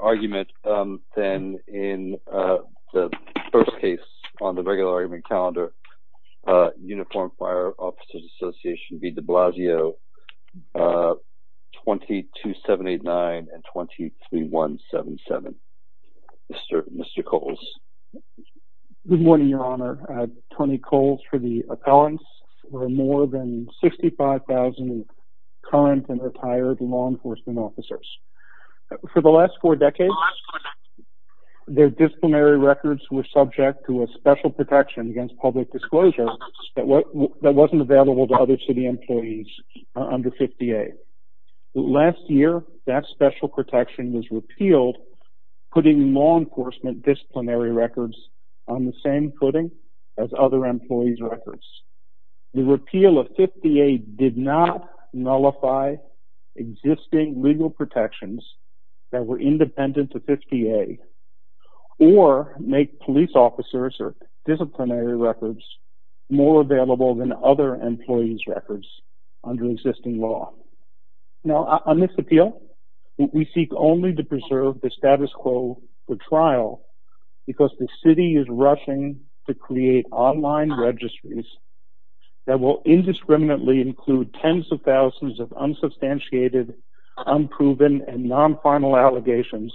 argument then in the first case on the regular argument calendar. Uniformed Fire Officers Association v. de Blasio 22789 and 23177. Mr. Coles. Good morning your honor. Tony Coles for the appellants. We're more than 65,000 current and retired law enforcement officers. For the last four decades their disciplinary records were subject to a special protection against public disclosure that wasn't available to other city employees under 50A. Last year that special protection was repealed putting law enforcement disciplinary records on the same footing as other employees records. The repeal of nullify existing legal protections that were independent to 50A or make police officers or disciplinary records more available than other employees records under existing law. Now on this appeal we seek only to preserve the status quo for trial because the city is rushing to create online registries that will indiscriminately include tens of thousands of unsubstantiated, unproven and non-final allegations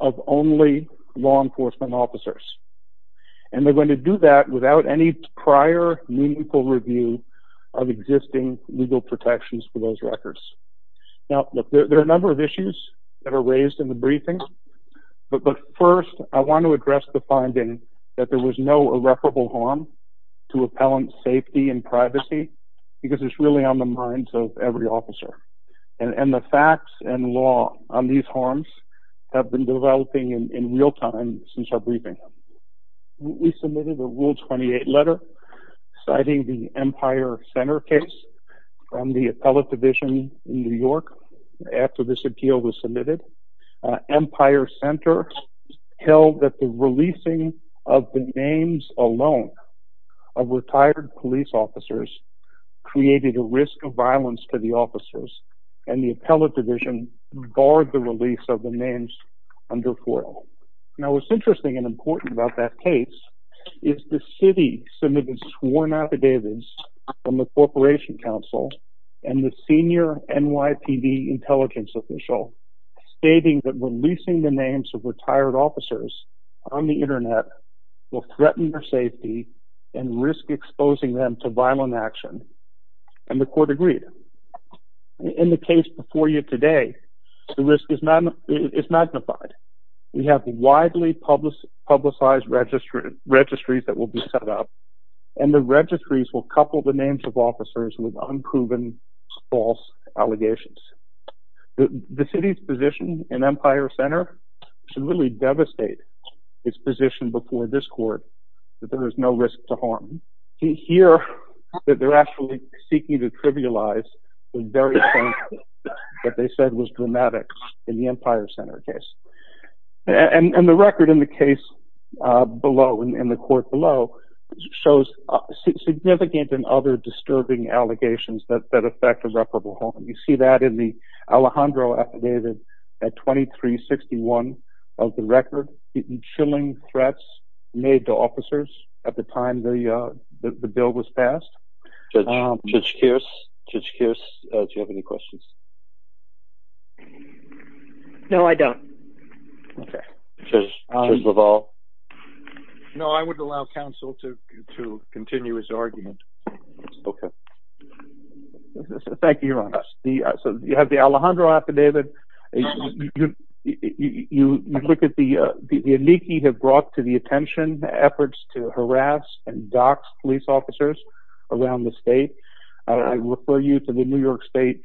of only law enforcement officers and they're going to do that without any prior meaningful review of existing legal protections for those records. Now there are a number of issues that are raised in the briefing but first I want to address the finding that there was no irreparable harm to appellant safety and privacy because it's really on the minds of every officer and the facts and law on these harms have been developing in real time since our briefing. We submitted a rule 28 letter citing the Empire Center case from the appellate division in New York after this appeal was submitted. Empire Center held that the releasing of the names alone of retired police officers created a risk of violence to the officers and the appellate division barred the release of the names under FOIA. Now what's interesting and important about that case is the city submitted sworn affidavits from the Corporation Council and the senior NYPD intelligence official stating that releasing the names of retired officers on the internet will threaten their safety and risk exposing them to violent action and the court agreed. In the case before you today the risk is magnified. We have widely publicized registries that will be set up and the city's position in Empire Center should really devastate its position before this court that there is no risk to harm. To hear that they're actually seeking to trivialize what they said was dramatic in the Empire Center case and the record in the case below in the court below shows significant and other disturbing allegations that affect a reparable home. You see that in the Alejandro affidavit at 2361 of the record. Chilling threats made to officers at the time the bill was passed. Judge Kearse, do you have any questions? No I don't. Judge LaValle? No I would allow counsel to continue his argument. Okay. Thank you your honor. So you have the Alejandro affidavit. You look at the amici have brought to the attention efforts to harass and dox police officers around the state. I refer you to the New York State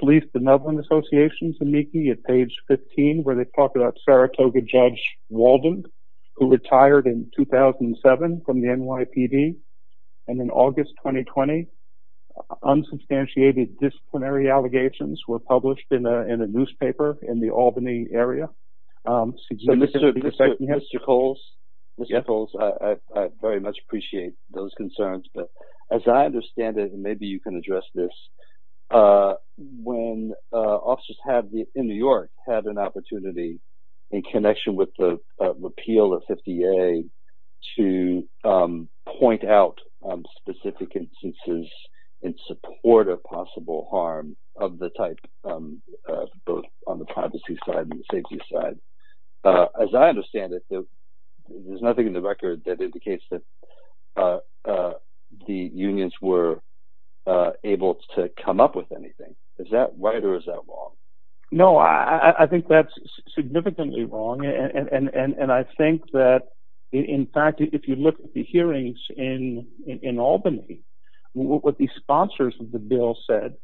Police Association's amici at page 15 where they talked about Saratoga Judge Walden who retired in 2007 from the NYPD and in August 2020 unsubstantiated disciplinary allegations were published in a newspaper in the Albany area. Mr. Coles, I very much appreciate those concerns but as I understand it and officers have in New York had an opportunity in connection with the repeal of 50A to point out specific instances in support of possible harm of the type both on the privacy side and safety side. As I understand it there's nothing in the record that indicates that the unions were able to come up with anything. Is that right or is that wrong? No I think that's significantly wrong and I think that in fact if you look at the hearings in Albany what the sponsors of the bill said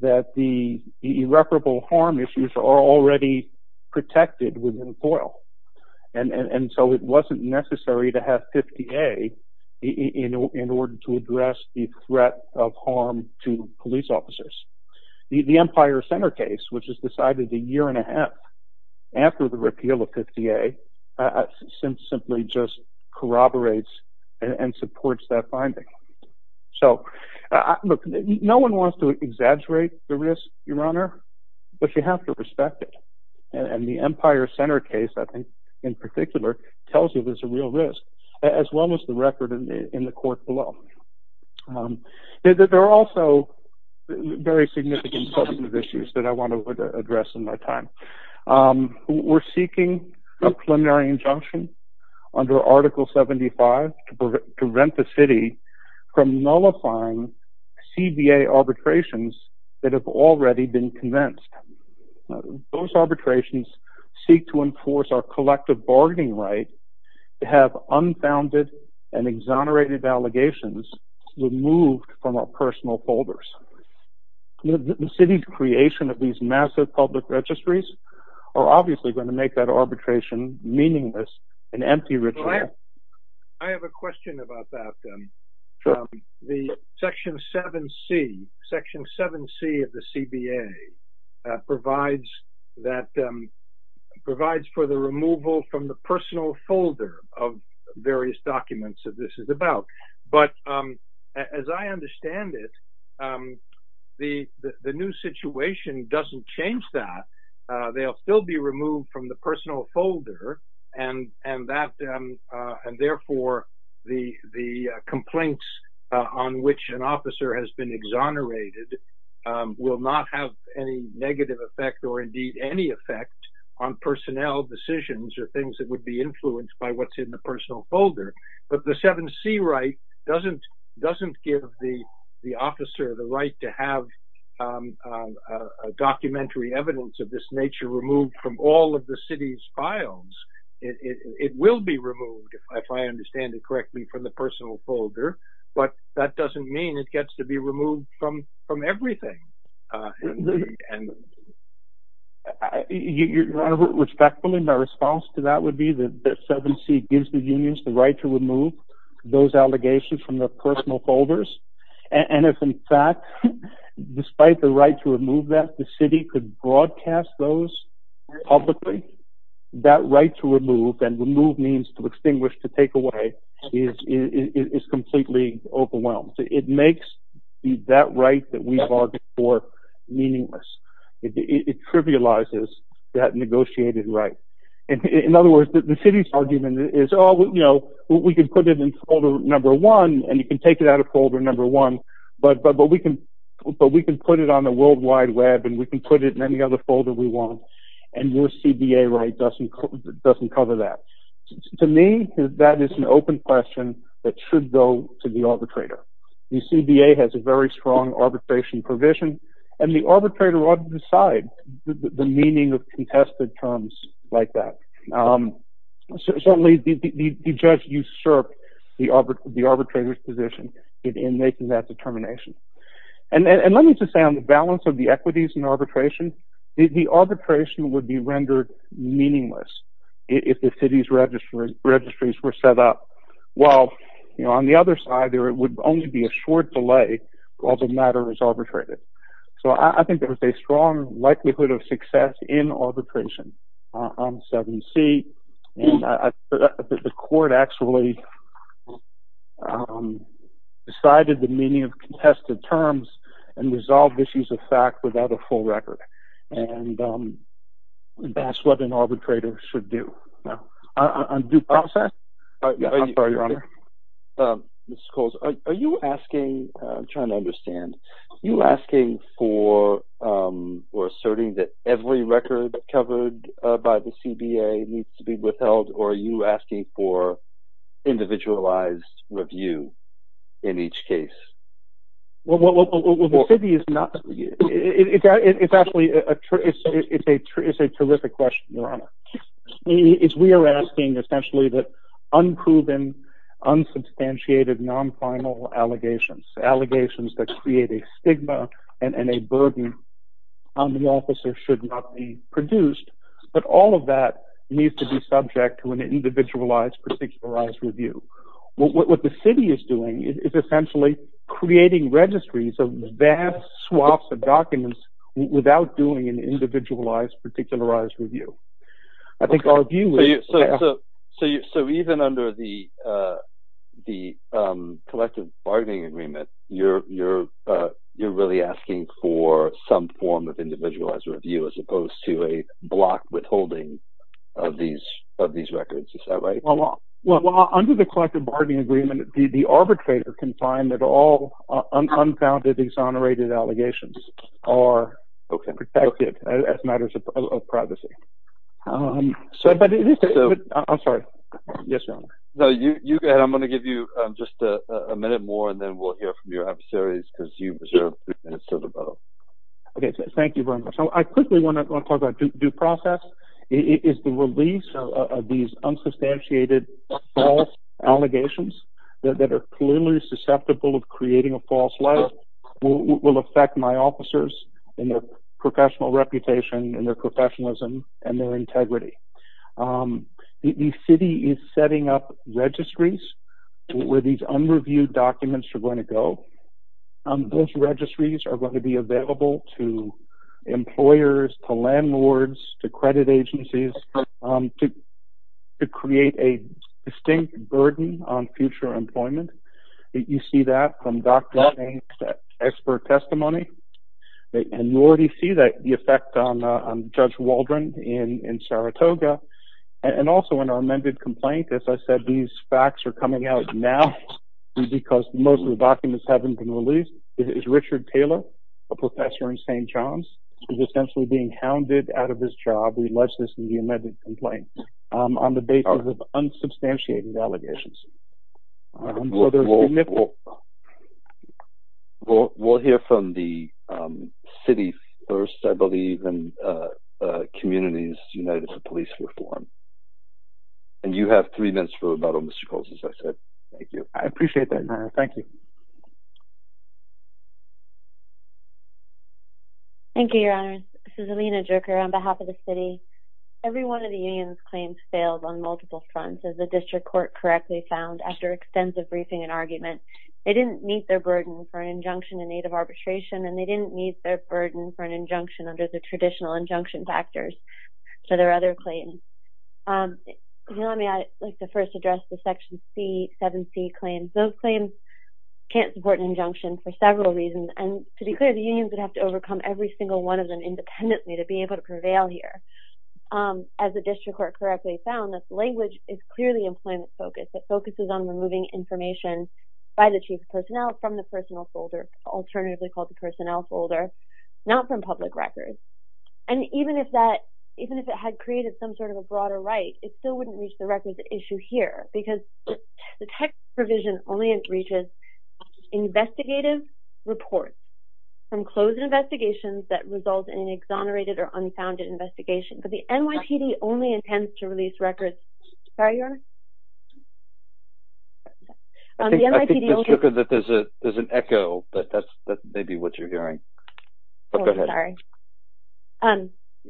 that the irreparable harm issues are already protected within FOIL and so it wasn't necessary to have 50A in order to the Empire Center case which is decided a year and a half after the repeal of 50A simply just corroborates and supports that finding. So look no one wants to exaggerate the risk, your honor, but you have to respect it and the Empire Center case I think in particular tells you there's a real risk as well as the record in the court below. There are also very significant substantive issues that I want to address in my time. We're seeking a preliminary injunction under Article 75 to prevent the city from nullifying CBA arbitrations that have already been commenced. Those arbitrations seek to enforce our collective bargaining right to unfounded and exonerated allegations removed from our personal folders. The city's creation of these massive public registries are obviously going to make that arbitration meaningless and empty Richard. I have a question about that. The Section 7C of the CBA provides for the removal from the personal folder of various documents that this is about, but as I understand it, the new situation doesn't change that. They'll still be removed from the personal folder and therefore the complaints on which an officer has been exonerated will not have any negative effect or indeed any effect on personnel decisions or things that would be influenced by what's in the personal folder, but the 7C right doesn't give the officer the right to have a documentary evidence of this nature removed from all of the city's files. It will be removed, if I understand it correctly, from the personal folder, but that doesn't mean it gets to be removed from everything. Your Honor, respectfully, my response to that would be that 7C gives the unions the right to remove those allegations from their personal folders and if in fact, despite the right to remove that, the city could broadcast those publicly, that right to remove and remove means to extinguish, to take away, is completely overwhelmed. It makes that right that we've argued for meaningless. It trivializes that negotiated right. In other words, the city's argument is, oh, you know, we can put it in folder number one and you can take it out of folder number one, but we can put it on the World Wide Web and we can put it in any other folder we want and your CBA right doesn't cover that. To me, that is an open question that should go to the arbitrator. The CBA has a very strong arbitration provision and the arbitrator ought to decide the meaning of contested terms like that. Certainly, the judge usurped the arbitrator's position in making that determination and let me just say on the balance of the equities and if the city's registries were set up well, you know, on the other side there would only be a short delay while the matter is arbitrated. So I think there's a strong likelihood of success in arbitration on 7c and the court actually decided the meaning of contested terms and resolved issues of the full record and that's what an arbitrator should do on due process. Mr. Coles, are you asking, I'm trying to understand, are you asking for or asserting that every record covered by the CBA needs to be withheld or are you It's actually a terrific question, Your Honor. We are asking essentially that unproven, unsubstantiated, non-final allegations, allegations that create a stigma and a burden on the officer should not be produced, but all of that needs to be subject to an individualized, particularized review. What the city is doing is essentially creating registries of vast swaths of documents without doing an individualized, particularized review. I think our view is... So even under the collective bargaining agreement, you're really asking for some form of individualized review as opposed to a block withholding of these records, is that right? Well, under the collective bargaining agreement, the unfounded, exonerated allegations are protected as matters of privacy. I'm sorry. Yes, Your Honor. No, you go ahead. I'm going to give you just a minute more and then we'll hear from your adversaries because you reserved three minutes to develop. Okay, thank you very much. I quickly want to talk about due process. It is the release of these unsubstantiated false allegations that are clearly susceptible of creating a false leg will affect my officers and their professional reputation and their professionalism and their integrity. The city is setting up registries where these unreviewed documents are going to go. Those registries are going to be available to employers, to landlords, to credit from expert testimony. And you already see that the effect on Judge Waldron in Saratoga and also in our amended complaint. As I said, these facts are coming out now because most of the documents haven't been released. Richard Taylor, a professor in St. John's, is essentially being hounded out of his job. We allege this in the amended complaint on the basis of unsubstantiated allegations. We'll hear from the city first, I believe, and Communities United for Police Reform. And you have three minutes for rebuttal, Mr. Coles, as I said. Thank you. I appreciate that, Your Honor. Thank you. Thank you, Your Honor. This is Alina Jerker on behalf of the city. Every one of the claims that the District Court correctly found after extensive briefing and argument, they didn't meet their burden for an injunction in aid of arbitration and they didn't meet their burden for an injunction under the traditional injunction factors for their other claims. You know, I mean, I'd like to first address the Section 7C claims. Those claims can't support an injunction for several reasons. And to be clear, the unions would have to overcome every single one of them independently to be able to prevail here. As the District Court correctly found, this language is clearly employment-focused. It focuses on removing information by the chief of personnel from the personnel folder, alternatively called the personnel folder, not from public records. And even if that, even if it had created some sort of a broader right, it still wouldn't reach the records issue here because the text provision only reaches investigative reports from closed investigations that result in an exonerated or unfounded investigation. But the NYPD only intends to release records...sorry, Your Honor? I think it's good that there's an echo, but that's maybe what you're hearing. Oh, sorry.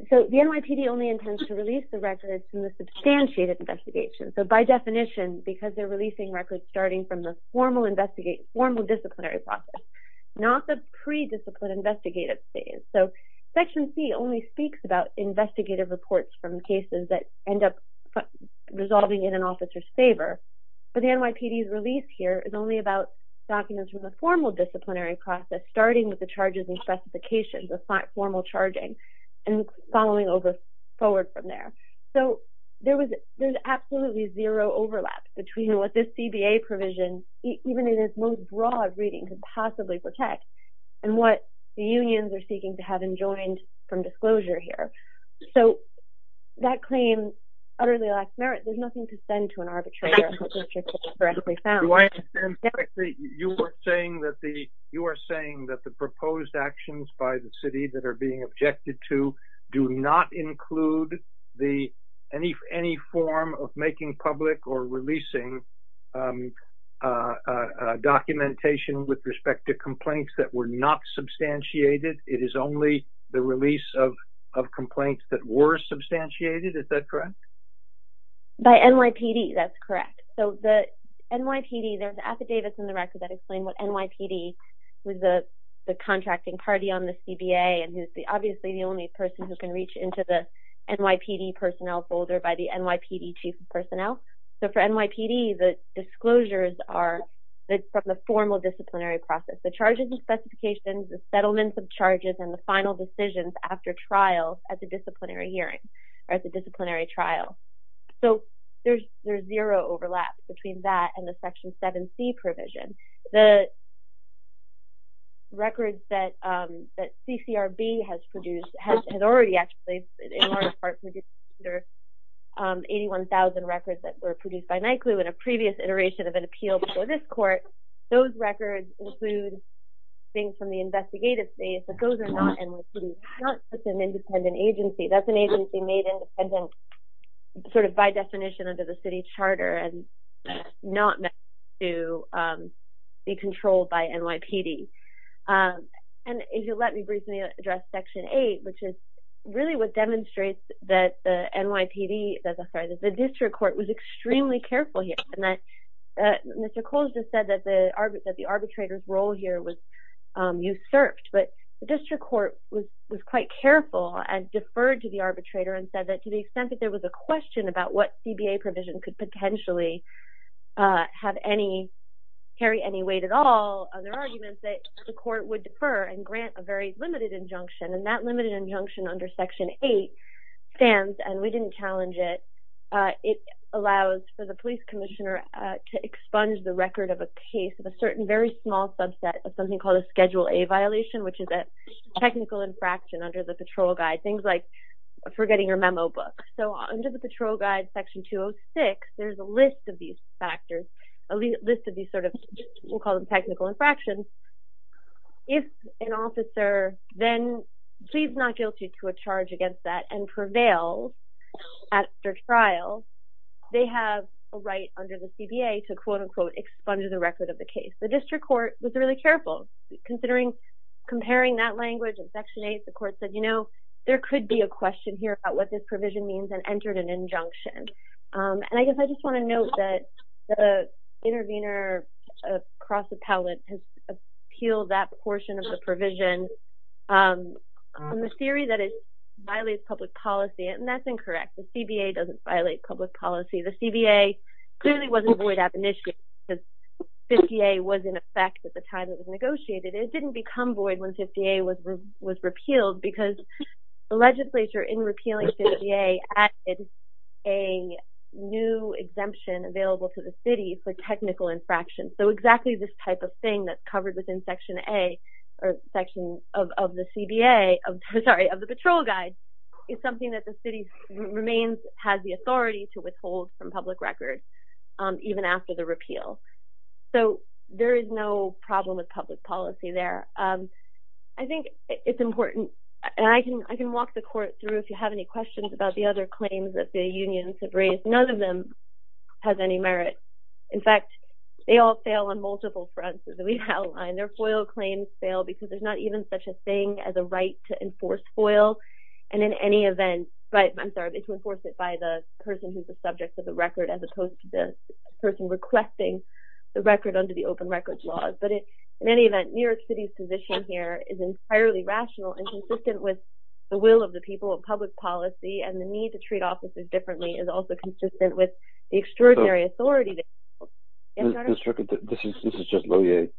So, the NYPD only intends to release the records from the substantiated investigation. So, by definition, because they're releasing records starting from the formal disciplinary process, not the pre-discipline investigative phase. So, Section C only speaks about investigative reports from cases that end up resolving in an officer's favor. But the NYPD's release here is only about documents from the formal disciplinary process, starting with the charges and specifications of formal charging and following over forward from there. So, there was absolutely zero overlap between what this CBA provision, even in its most broad reading, could possibly protect and what the unions are seeking to have enjoined from disclosure here. So, that claim utterly lacks merit. There's nothing to send to an arbitrator. Do I understand correctly? You are saying that the proposed actions by the city that are being objected to do not include any form of making public or releasing documentation with respect to complaints that were not substantiated? It is only the release of complaints that were substantiated? Is that correct? By NYPD, that's correct. So, the NYPD, there's affidavits in the record that explain what NYPD, who's the contracting party on the CBA and who's obviously the only person who can reach into the NYPD personnel folder by the NYPD chief of personnel. So, for NYPD, the disclosures are from the formal disciplinary process. The charges and specifications, the settlements of charges, and the final decisions after trial at the disciplinary hearing or at the disciplinary trial. So, there's zero overlap between that and the Section 7c provision. The records that CCRB has produced has already actually, in large part, produced 81,000 records that were produced by NYCLU in a previous iteration of an appeal before this court. Those records include things from the investigative space, but those are not NYPD, not just an independent agency. That's an agency made independent sort of by definition under the city charter and not meant to be controlled by NYPD. And if you'll let me briefly address Section 8, which is really what demonstrates that the NYPD, sorry, that the district court was extremely careful here and that Mr. Coles just said that the arbitrator's role here was usurped, but the district court was quite careful and deferred to the arbitrator and said that to the extent that there was a question about what CBA provision could potentially have any, carry any weight at all on their arguments, that the court would defer and grant a very limited injunction. And that limited injunction under Section 8 stands, and we didn't challenge it, it allows for the police commissioner to expunge the record of a case of a certain very small subset of something called a Schedule A violation, which is a technical infraction under the patrol guide, things like forgetting your memo book. So, under the patrol guide Section 206, there's a list of these factors, a list of these sort of, we'll call them technical infractions. If an officer then pleads not guilty to a charge against that and prevails at their trial, they have a right under the CBA to quote-unquote expunge the record of the case. The district court was really careful, considering, comparing that language in Section 8, the court said, you know, there could be a question here about what this provision means and I guess I just want to note that the intervener, Cross Appellant, has appealed that portion of the provision on the theory that it violates public policy, and that's incorrect. The CBA doesn't violate public policy. The CBA clearly wasn't void ab initiative because 50A was in effect at the time it was negotiated. It didn't become void when 50A was repealed because the legislature, in repealing 50A, added a new exemption available to the city for technical infractions. So exactly this type of thing that's covered within Section A, or Section of the CBA, sorry, of the Patrol Guide, is something that the city remains, has the authority to withhold from public record even after the repeal. So there is no problem with public policy there. I think it's important, and I can walk the court through if you have any questions about the other claims that the unions have raised, none of them has any merit. In fact, they all fail on multiple fronts as we outlined. Their FOIL claims fail because there's not even such a thing as a right to enforce FOIL, and in any event, right, I'm sorry, to enforce it by the person who's the subject of the record as opposed to the person requesting the record under the open records laws. But in any event, New York City's position here is entirely rational and consistent with the will of the people of public policy, and the need to treat officers differently is also consistent with the extraordinary authority. This is just Lillie,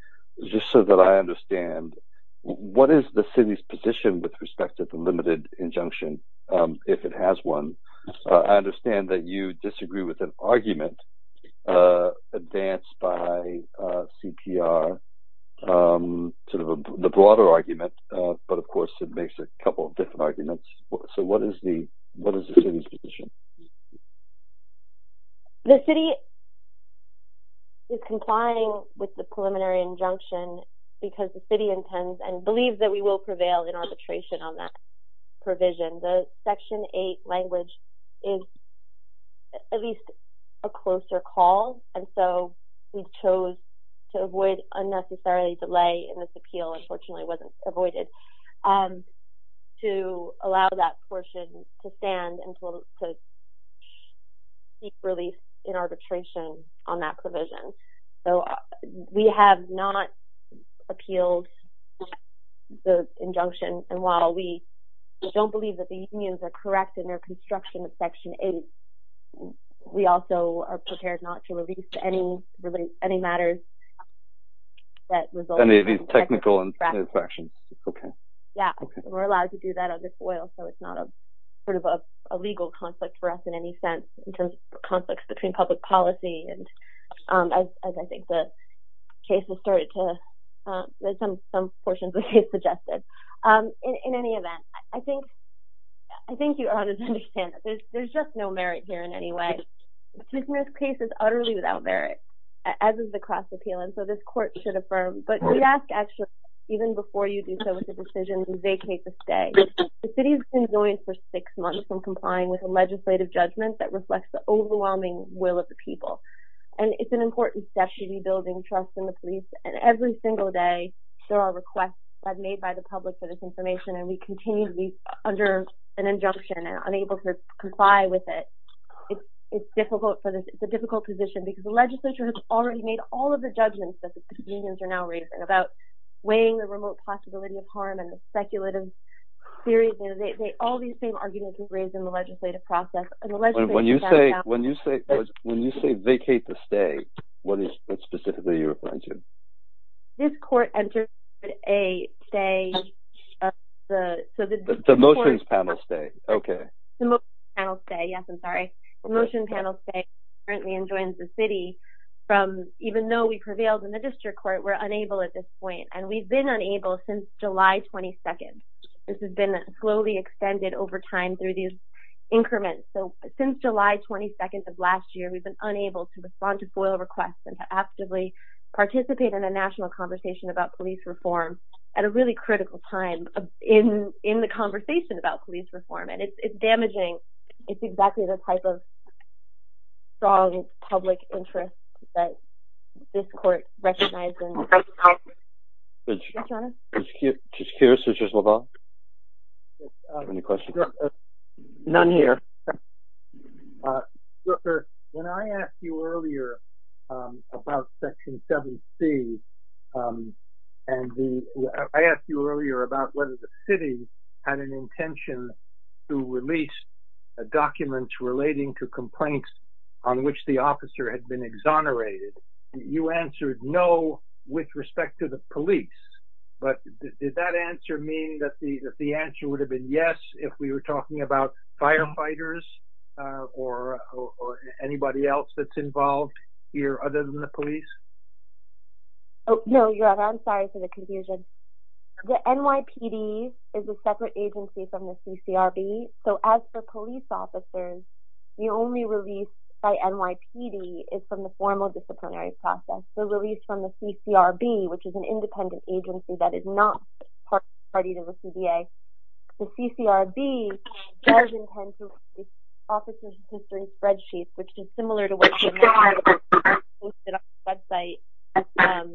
just so that I understand, what is the city's position with respect to the limited injunction, if it has one? I understand that you disagree with an argument advanced by CPR, sort of the broader argument, but of course it makes a couple different arguments. So what is the city's position? The city is complying with the preliminary injunction because the city intends and believes that we will prevail in arbitration on that provision. The Section 8 language is at least a closer call, and so we chose to avoid unnecessary delay in this appeal, unfortunately it wasn't avoided, to allow that portion to stand and to seek release in arbitration on that provision. So we have not appealed the injunction, and while we don't believe that the unions are correct in their construction of Section 8, we also are prepared not to release any matters that result in technical infractions. We're allowed to do that on this oil, so it's not a sort of a legal conflict for us in any sense, in terms of conflicts between public policy, and as I think the case has started to, there's some portions of the case suggested. In any event, I think you are understanding that there's just no merit here in any way. Chief Mears' case is utterly without merit, as is the cross appeal, and so this court should affirm, but we ask actually, even before you do so with the decision, vacate the stay. The city has been going for six months and complying with a legislative judgment that reflects the overwhelming will of the people, and it's an important step to be building trust in the police, and every single day there are requests made by the public for this information, and we continue to be under an injunction and unable to comply with it. It's difficult for this, it's a difficult position because the legislature has already made all of the judgments that the unions are now raising about weighing the remote possibility of harm and the speculative theories, and all these same arguments are raised in the legislative process. When you say, when you say, when you say vacate the stay, what is it specifically you're referring to? This court entered a stay, the motions panel stay, okay, the motion panel stay, yes I'm sorry, the motion panel stay currently enjoins the city from, even though we prevailed in the district court, we're unable at this point, and we've been unable since July 22nd. This has been slowly extended over time through these increments, so since July 22nd of last year, we've been unable to respond to FOIA requests and to actively participate in a national conversation about police reform at a really critical time in the conversation about police reform, and it's damaging, it's exactly the type of strong public interest that this court recognizes. Judge Keir, Judge Lobau? Any questions? None here. When I asked you earlier about Section 7C, and I asked you earlier about whether the city had an intention to release a document relating to complaints on which the officer had been exonerated, you answered no with respect to the police, but did that answer mean that the answer would have been yes if we were talking about firefighters or anybody else that's involved here other than the police? Oh no, your honor, I'm sorry for the confusion. The NYPD is a separate agency from the CCRB, so as for police officers, the only release by NYPD is from the formal disciplinary process. The release from the CCRB, which is an agency from the CCRB, does intend to release officers' history spreadsheets, which is similar to what was posted on the website,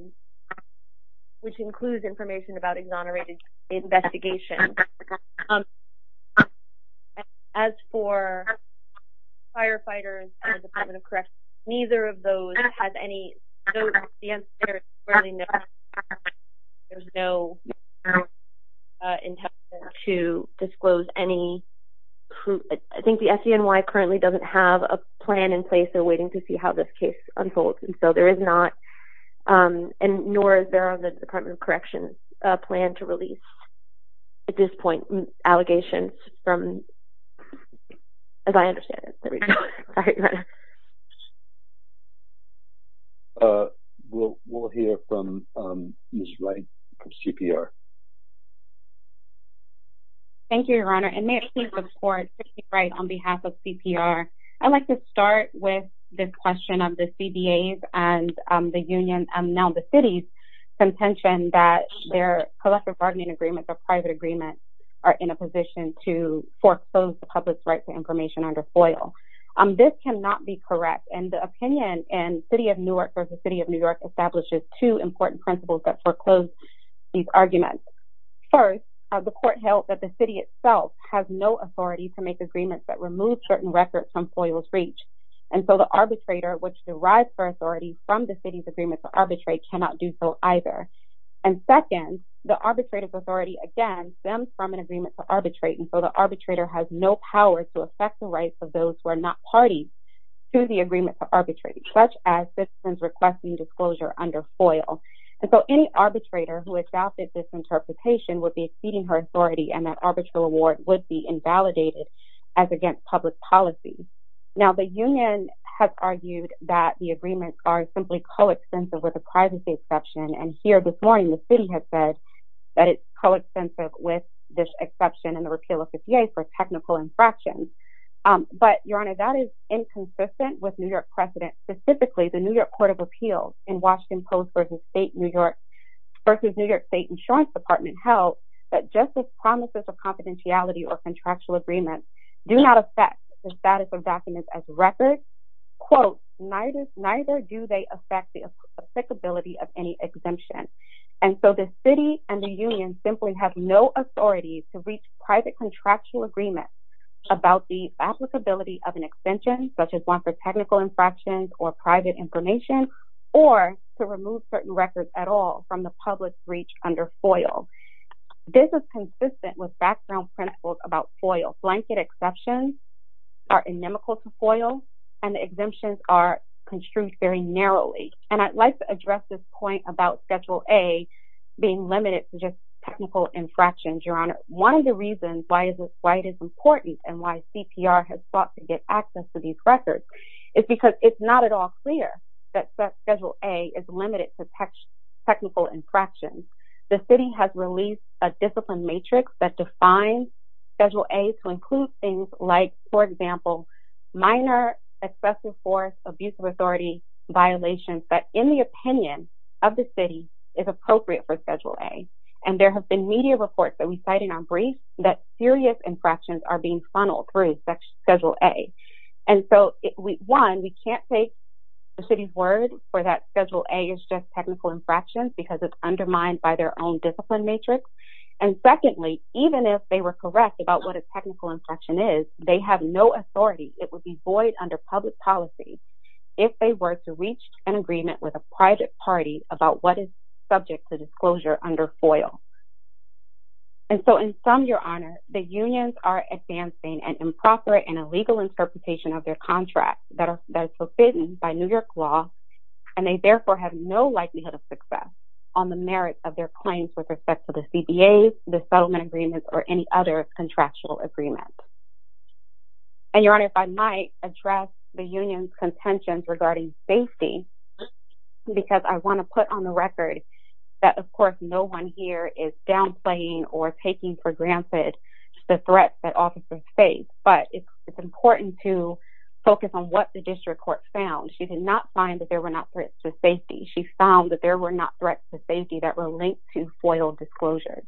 which includes information about exonerated investigations. As for firefighters and the Department of Corrections, neither of those has any, the answer there is fairly no. There's no intent to disclose any, I think the FDNY currently doesn't have a plan in place, they're waiting to see how this case unfolds, and so there is not, and nor is there on the Department of Corrections a plan to release, at this point, allegations from, as I understand it. We'll hear from Ms. Wright, from CPR. Thank you, your honor, and may I please report to Ms. Wright on behalf of CPR. I'd like to start with this question of the CBAs and the unions, and now the cities, contention that their collective bargaining agreements or private agreements are in a position to This cannot be correct, and the opinion in City of Newark versus City of New York establishes two important principles that foreclose these arguments. First, the court held that the city itself has no authority to make agreements that remove certain records from FOIA's reach, and so the arbitrator, which derives their authority from the city's agreement to arbitrate, cannot do so either. And second, the arbitrator's authority, again, stems from an agreement to arbitrate, and so the arbitrator has no power to affect the rights of those who are not parties to the agreement to arbitrate, such as citizens requesting disclosure under FOIA. And so any arbitrator who adopted this interpretation would be exceeding her authority, and that arbitral award would be invalidated as against public policy. Now, the union has argued that the agreements are simply co-extensive with a privacy exception, and here this morning the city has said that it's co-extensive with this exception in the repeal of the CBAs for technical infractions. But, Your Honor, that is inconsistent with New York precedent, specifically the New York Court of Appeals in Washington Post versus New York State Insurance Department held that just as promises of confidentiality or contractual agreements do not affect the status of documents as records, quote, neither do they affect the applicability of any exemption. And so the city and the union simply have no authority to reach private contractual agreements about the applicability of an extension, such as one for technical infractions or private information, or to remove certain records at all from the public's reach under FOIA. This is consistent with background principles about FOIA. Blanket exceptions are inimical to FOIA, and the exemptions are construed very narrowly. And I'd like to address this point about Schedule A being limited to just technical infractions, Your Honor. One of the reasons why it is important and why CPR has sought to get access to these records is because it's not at all clear that Schedule A is limited to technical infractions. The city has released a discipline matrix that defines Schedule A to include things like, for example, minor excessive force, abuse of authority, violations that, in the opinion of the city, is appropriate for Schedule A. And there have been media reports that we cite in our brief that serious infractions are being funneled through Schedule A. And so, one, we can't take the city's word for that Schedule A is just technical infractions because it's undermined by their own discipline matrix. And secondly, even if they were correct about what a technical infraction is, they have no authority. It would be void under public policy if they were to reach an agreement with a private party about what is subject to disclosure under FOIA. And so, in sum, Your Honor, the unions are advancing an improper and illegal interpretation of their contract that is fulfilled by New York law. And they, therefore, have no likelihood of success on the merits of their claims with respect to the CBAs, the settlement agreements, or any other contractual agreements. And, Your Honor, if I might address the union's contentions regarding safety because I want to put on the record that, of course, no one here is downplaying or taking for granted the threats that officers face. But it's important to focus on what the district court found. She did not find that there were not threats to safety. She found that there were not threats to safety that were linked to FOIA disclosures.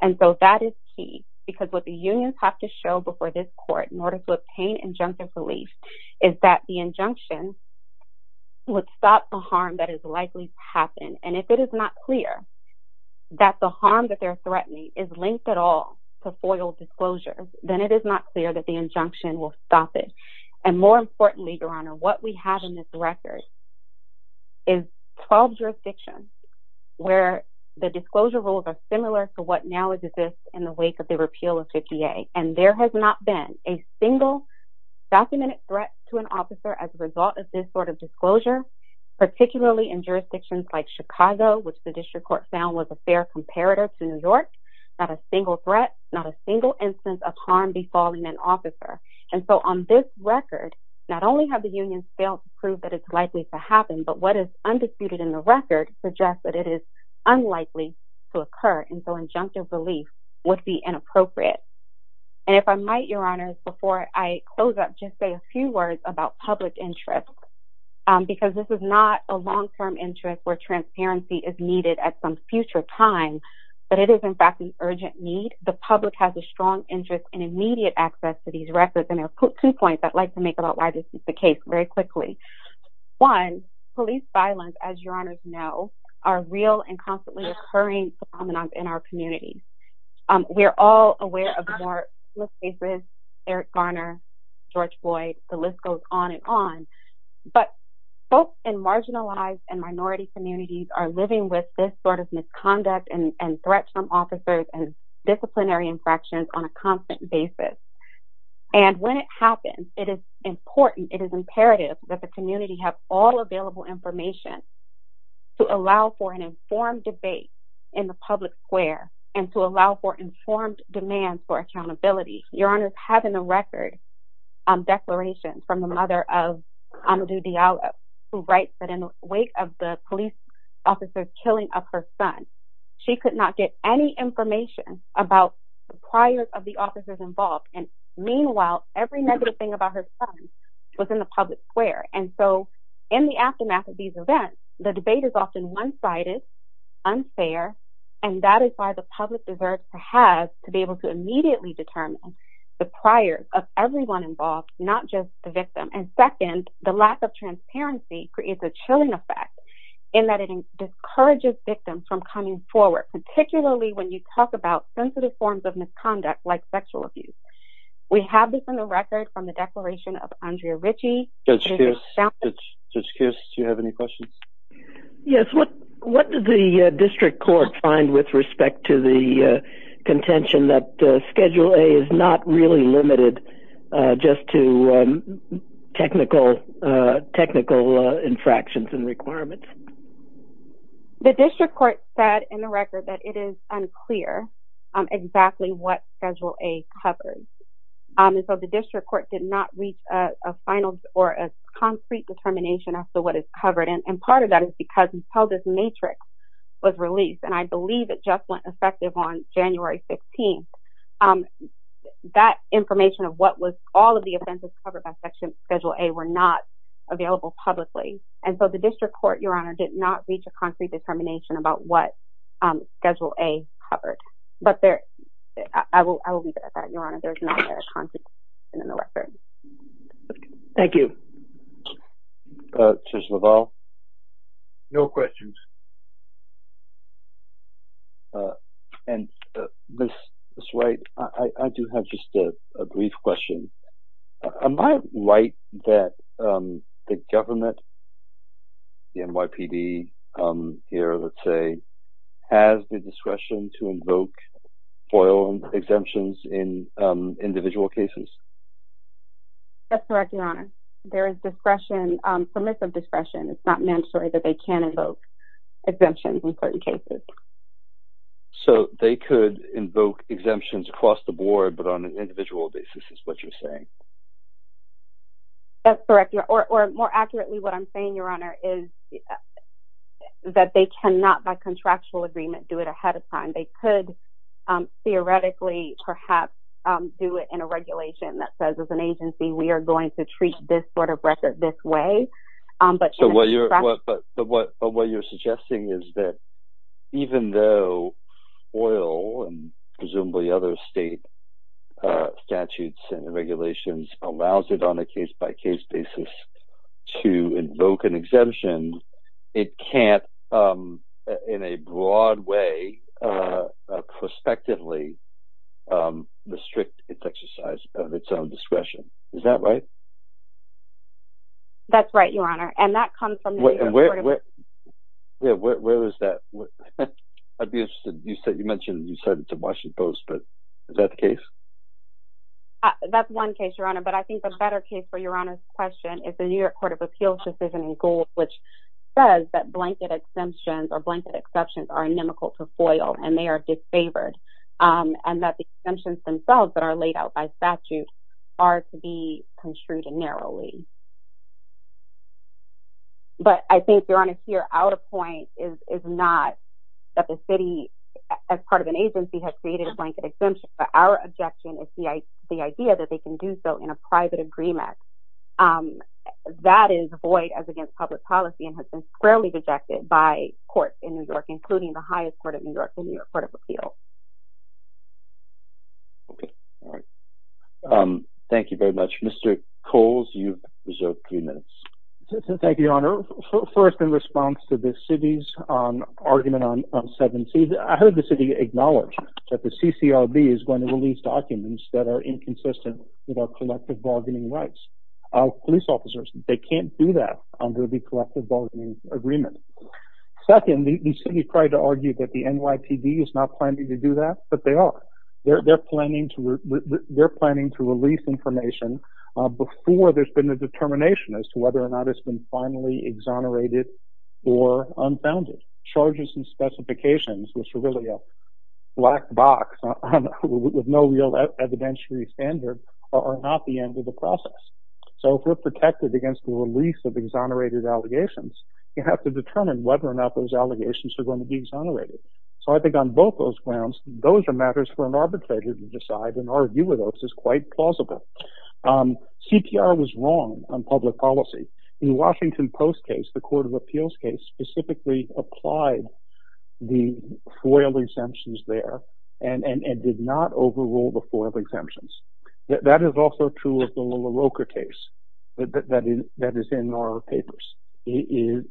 And so that is key because what the unions have to show before this court in order to obtain injunctive relief is that the injunction would stop the harm that is likely to happen. And if it is not clear that the harm that they're threatening is linked at all to FOIA disclosures, then it is not clear that the injunction will stop it. And more importantly, Your Honor, what we have in this record is 12 jurisdictions where the disclosure rules are similar to what now exists in the wake of the repeal of 50A. And there has not been a single documented threat to an officer as a result of this sort of disclosure, particularly in jurisdictions like Chicago, which the district court found was a fair comparator to New York. Not a single threat, not a single instance of harm befalling an officer. And so on this record, not only have the unions failed to prove that it's likely to happen, but what is undisputed in the record suggests that it is unlikely to occur. And so injunctive relief would be inappropriate. And if I might, Your Honors, before I close up, just say a few words about public interest. Because this is not a long-term interest where transparency is needed at some future time, but it is in fact an urgent need. And the public has a strong interest in immediate access to these records. And there are two points I'd like to make about why this is the case very quickly. One, police violence, as Your Honors know, are real and constantly occurring phenomenon in our community. We are all aware of more cases, Eric Garner, George Floyd, the list goes on and on. But folks in marginalized and minority communities are living with this sort of misconduct and threats from officers and disciplinary infractions on a constant basis. And when it happens, it is important, it is imperative that the community have all available information to allow for an informed debate in the public square and to allow for informed demands for accountability. Your Honors, having a record declaration from the mother of Amadou Diallo, who writes that in the wake of the police officer's killing of her son, she could not get any information about the priors of the officers involved. And meanwhile, every negative thing about her son was in the public square. And so in the aftermath of these events, the debate is often one-sided, unfair, and that is why the public deserves to have to be able to immediately determine the priors of everyone involved, not just the victim. And second, the lack of transparency creates a chilling effect in that it discourages victims from coming forward, particularly when you talk about sensitive forms of misconduct like sexual abuse. We have this in the record from the declaration of Andrea Ritchie. Judge Kearse, do you have any questions? Yes, what did the district court find with respect to the contention that Schedule A is not really limited just to technical infractions and requirements? The district court said in the record that it is unclear exactly what Schedule A covers. And so the district court did not reach a final or a concrete determination as to what is covered. And part of that is because until this matrix was released, and I believe it just went effective on January 15th, that information of what was all of the offenses covered by Schedule A were not available publicly. And so the district court, Your Honor, did not reach a concrete determination about what Schedule A covered. But I will leave it at that, Your Honor. There is not a concrete determination in the record. Thank you. Judge LaValle? No questions. And Ms. Wright, I do have just a brief question. Am I right that the government, the NYPD here, let's say, has the discretion to invoke FOIL exemptions in individual cases? That's correct, Your Honor. There is discretion, permissive discretion. It's not necessary that they can invoke exemptions in certain cases. So they could invoke exemptions across the board, but on an individual basis, is what you're saying? That's correct. Or more accurately, what I'm saying, Your Honor, is that they cannot, by contractual agreement, do it ahead of time. They could theoretically perhaps do it in a regulation that says, as an agency, we are going to treat this sort of record this way. But what you're suggesting is that even though FOIL and presumably other state statutes and regulations allows it on a case-by-case basis to invoke an exemption, it can't, in a broad way, prospectively restrict its exercise of its own discretion. Is that right? That's right, Your Honor. And that comes from the New York Court of Appeals. Where is that? I'd be interested. You mentioned you sent it to Washington Post, but is that the case? That's one case, Your Honor, but I think the better case for Your Honor's question is the New York Court of Appeals decision in gold, which says that blanket exemptions or blanket exceptions are inimical to FOIL, and they are disfavored, and that the exemptions themselves that are laid out by statute are to be construed narrowly. But I think, Your Honor, here, our point is not that the city, as part of an agency, has created a blanket exemption, but our objection is the idea that they can do so in a private agreement. That is void as against public policy and has been squarely rejected by courts in New York, including the highest court of New York, the New York Court of Appeals. Thank you very much. Mr. Coles, you've reserved three minutes. Thank you, Your Honor. First, in response to the city's argument on 7C, I heard the city acknowledge that the CCRB is going to release documents that are inconsistent with our collective bargaining rights of police officers. They can't do that under the collective bargaining agreement. Second, the city tried to argue that the NYPD is not planning to do that, but they are. They're planning to release information before there's been a determination as to whether or not it's been finally exonerated or unfounded. Charges and specifications, which are really a black box with no real evidentiary standard, are not the end of the process. So if we're protected against the release of exonerated allegations, you have to determine whether or not those allegations are going to be exonerated. So I think on both those grounds, those are matters for an arbitrator to decide and argue with us is quite plausible. CPR was wrong on public policy. In the Washington Post case, the Court of Appeals case, specifically applied the FOIL exemptions there and did not overrule the FOIL exemptions. That is also true of the LaRocca case that is in our papers. You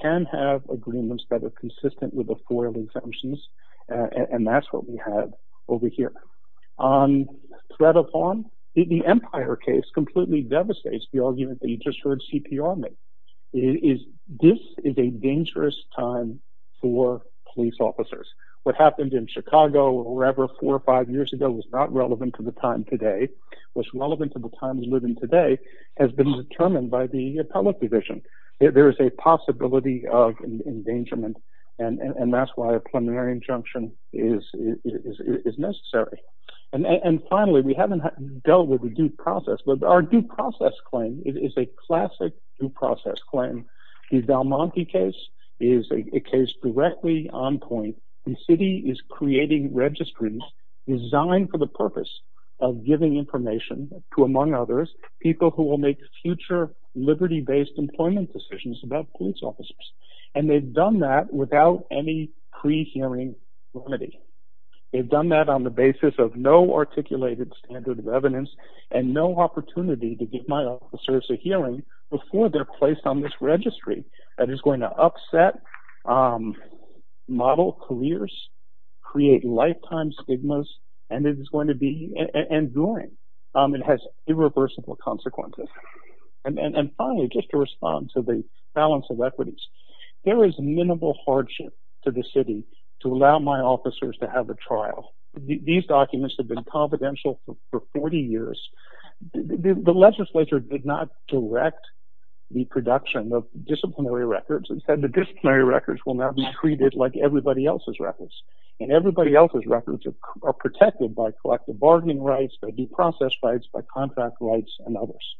can have agreements that are consistent with the FOIL exemptions, and that's what we have over here. On threat of harm, the Empire case completely devastates the argument that you just heard CPR make. This is a dangerous time for police officers. What happened in Chicago or wherever four or five years ago was not relevant to the time today. What's relevant to the times we live in today has been determined by the public division. There is a possibility of endangerment, and that's why a preliminary injunction is necessary. And finally, we haven't dealt with the due process, but our due process claim is a classic due process claim. The Del Monte case is a case directly on point. The city is creating registries designed for the purpose of giving information to, among others, people who will make future liberty-based employment decisions about police officers. And they've done that without any pre-hearing remedy. They've done that on the basis of no articulated standard of evidence and no opportunity to give my officers a hearing before they're placed on this registry. That is going to upset model careers, create lifetime stigmas, and it is going to be enduring. It has irreversible consequences. And finally, just to respond to the balance of equities, there is minimal hardship to the city to allow my officers to have a trial. These documents have been confidential for 40 years. The legislature did not direct the production of disciplinary records. Instead, the disciplinary records will now be treated like everybody else's records, and everybody else's records are protected by collective bargaining rights, by due process rights, by contract rights, and others.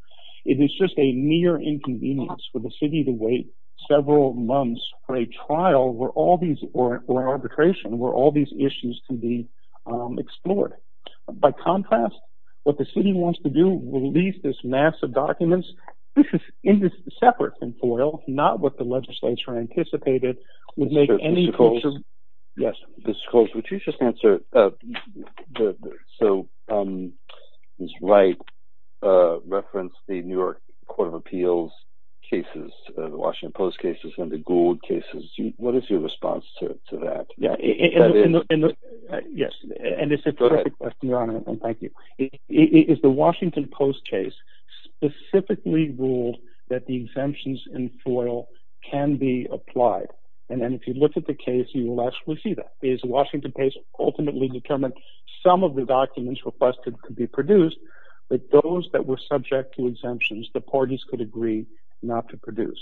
It is just a mere inconvenience for the city to wait several months for a trial or arbitration where all these issues can be explored. By contrast, what the city wants to do, release this mass of documents, this is separate from FOIL, not what the legislature anticipated. Mr. Coles, would you just answer, so Ms. Wright referenced the New York Court of Appeals cases, the Washington Post cases and the Gould cases. What is your response to that? Yes, and it's a terrific question, Your Honor, and thank you. The Washington Post case specifically ruled that the exemptions in FOIL can be applied, and if you look at the case, you will actually see that. The Washington Post ultimately determined some of the documents requested could be produced, but those that were subject to exemptions, the parties could agree not to produce.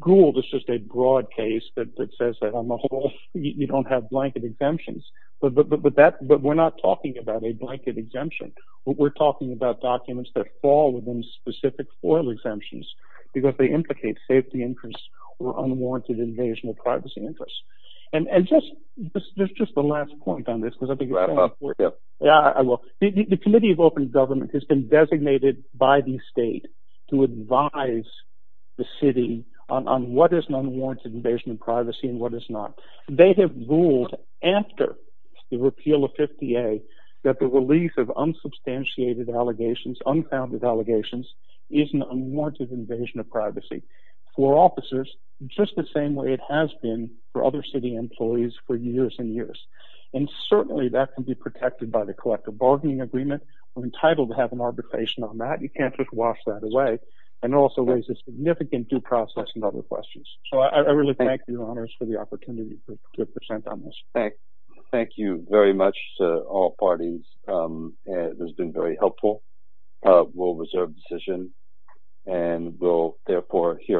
Gould is just a broad case that says that on the whole, you don't have blanket exemptions, but we're not talking about a blanket exemption. We're talking about documents that fall within specific FOIL exemptions because they implicate safety interests or unwarranted invasion of privacy interests. And just the last point on this, because I think you're going to have to wrap up. Yeah, I will. The Committee of Open Government has been designated by the state to advise the city on what is an unwarranted invasion of privacy and what is not. They have ruled after the repeal of 50A that the release of unsubstantiated allegations, unfounded allegations, is an unwarranted invasion of privacy for officers, just the same way it has been for other city employees for years and years. And certainly that can be protected by the collective bargaining agreement. We're entitled to have an arbitration on that. You can't just wash that away. And it also raises significant due process and other questions. So I really thank you, Your Honors, for the opportunity to present on this. Thank you very much to all parties. It has been very helpful. We'll reserve the session and we'll, therefore, hear.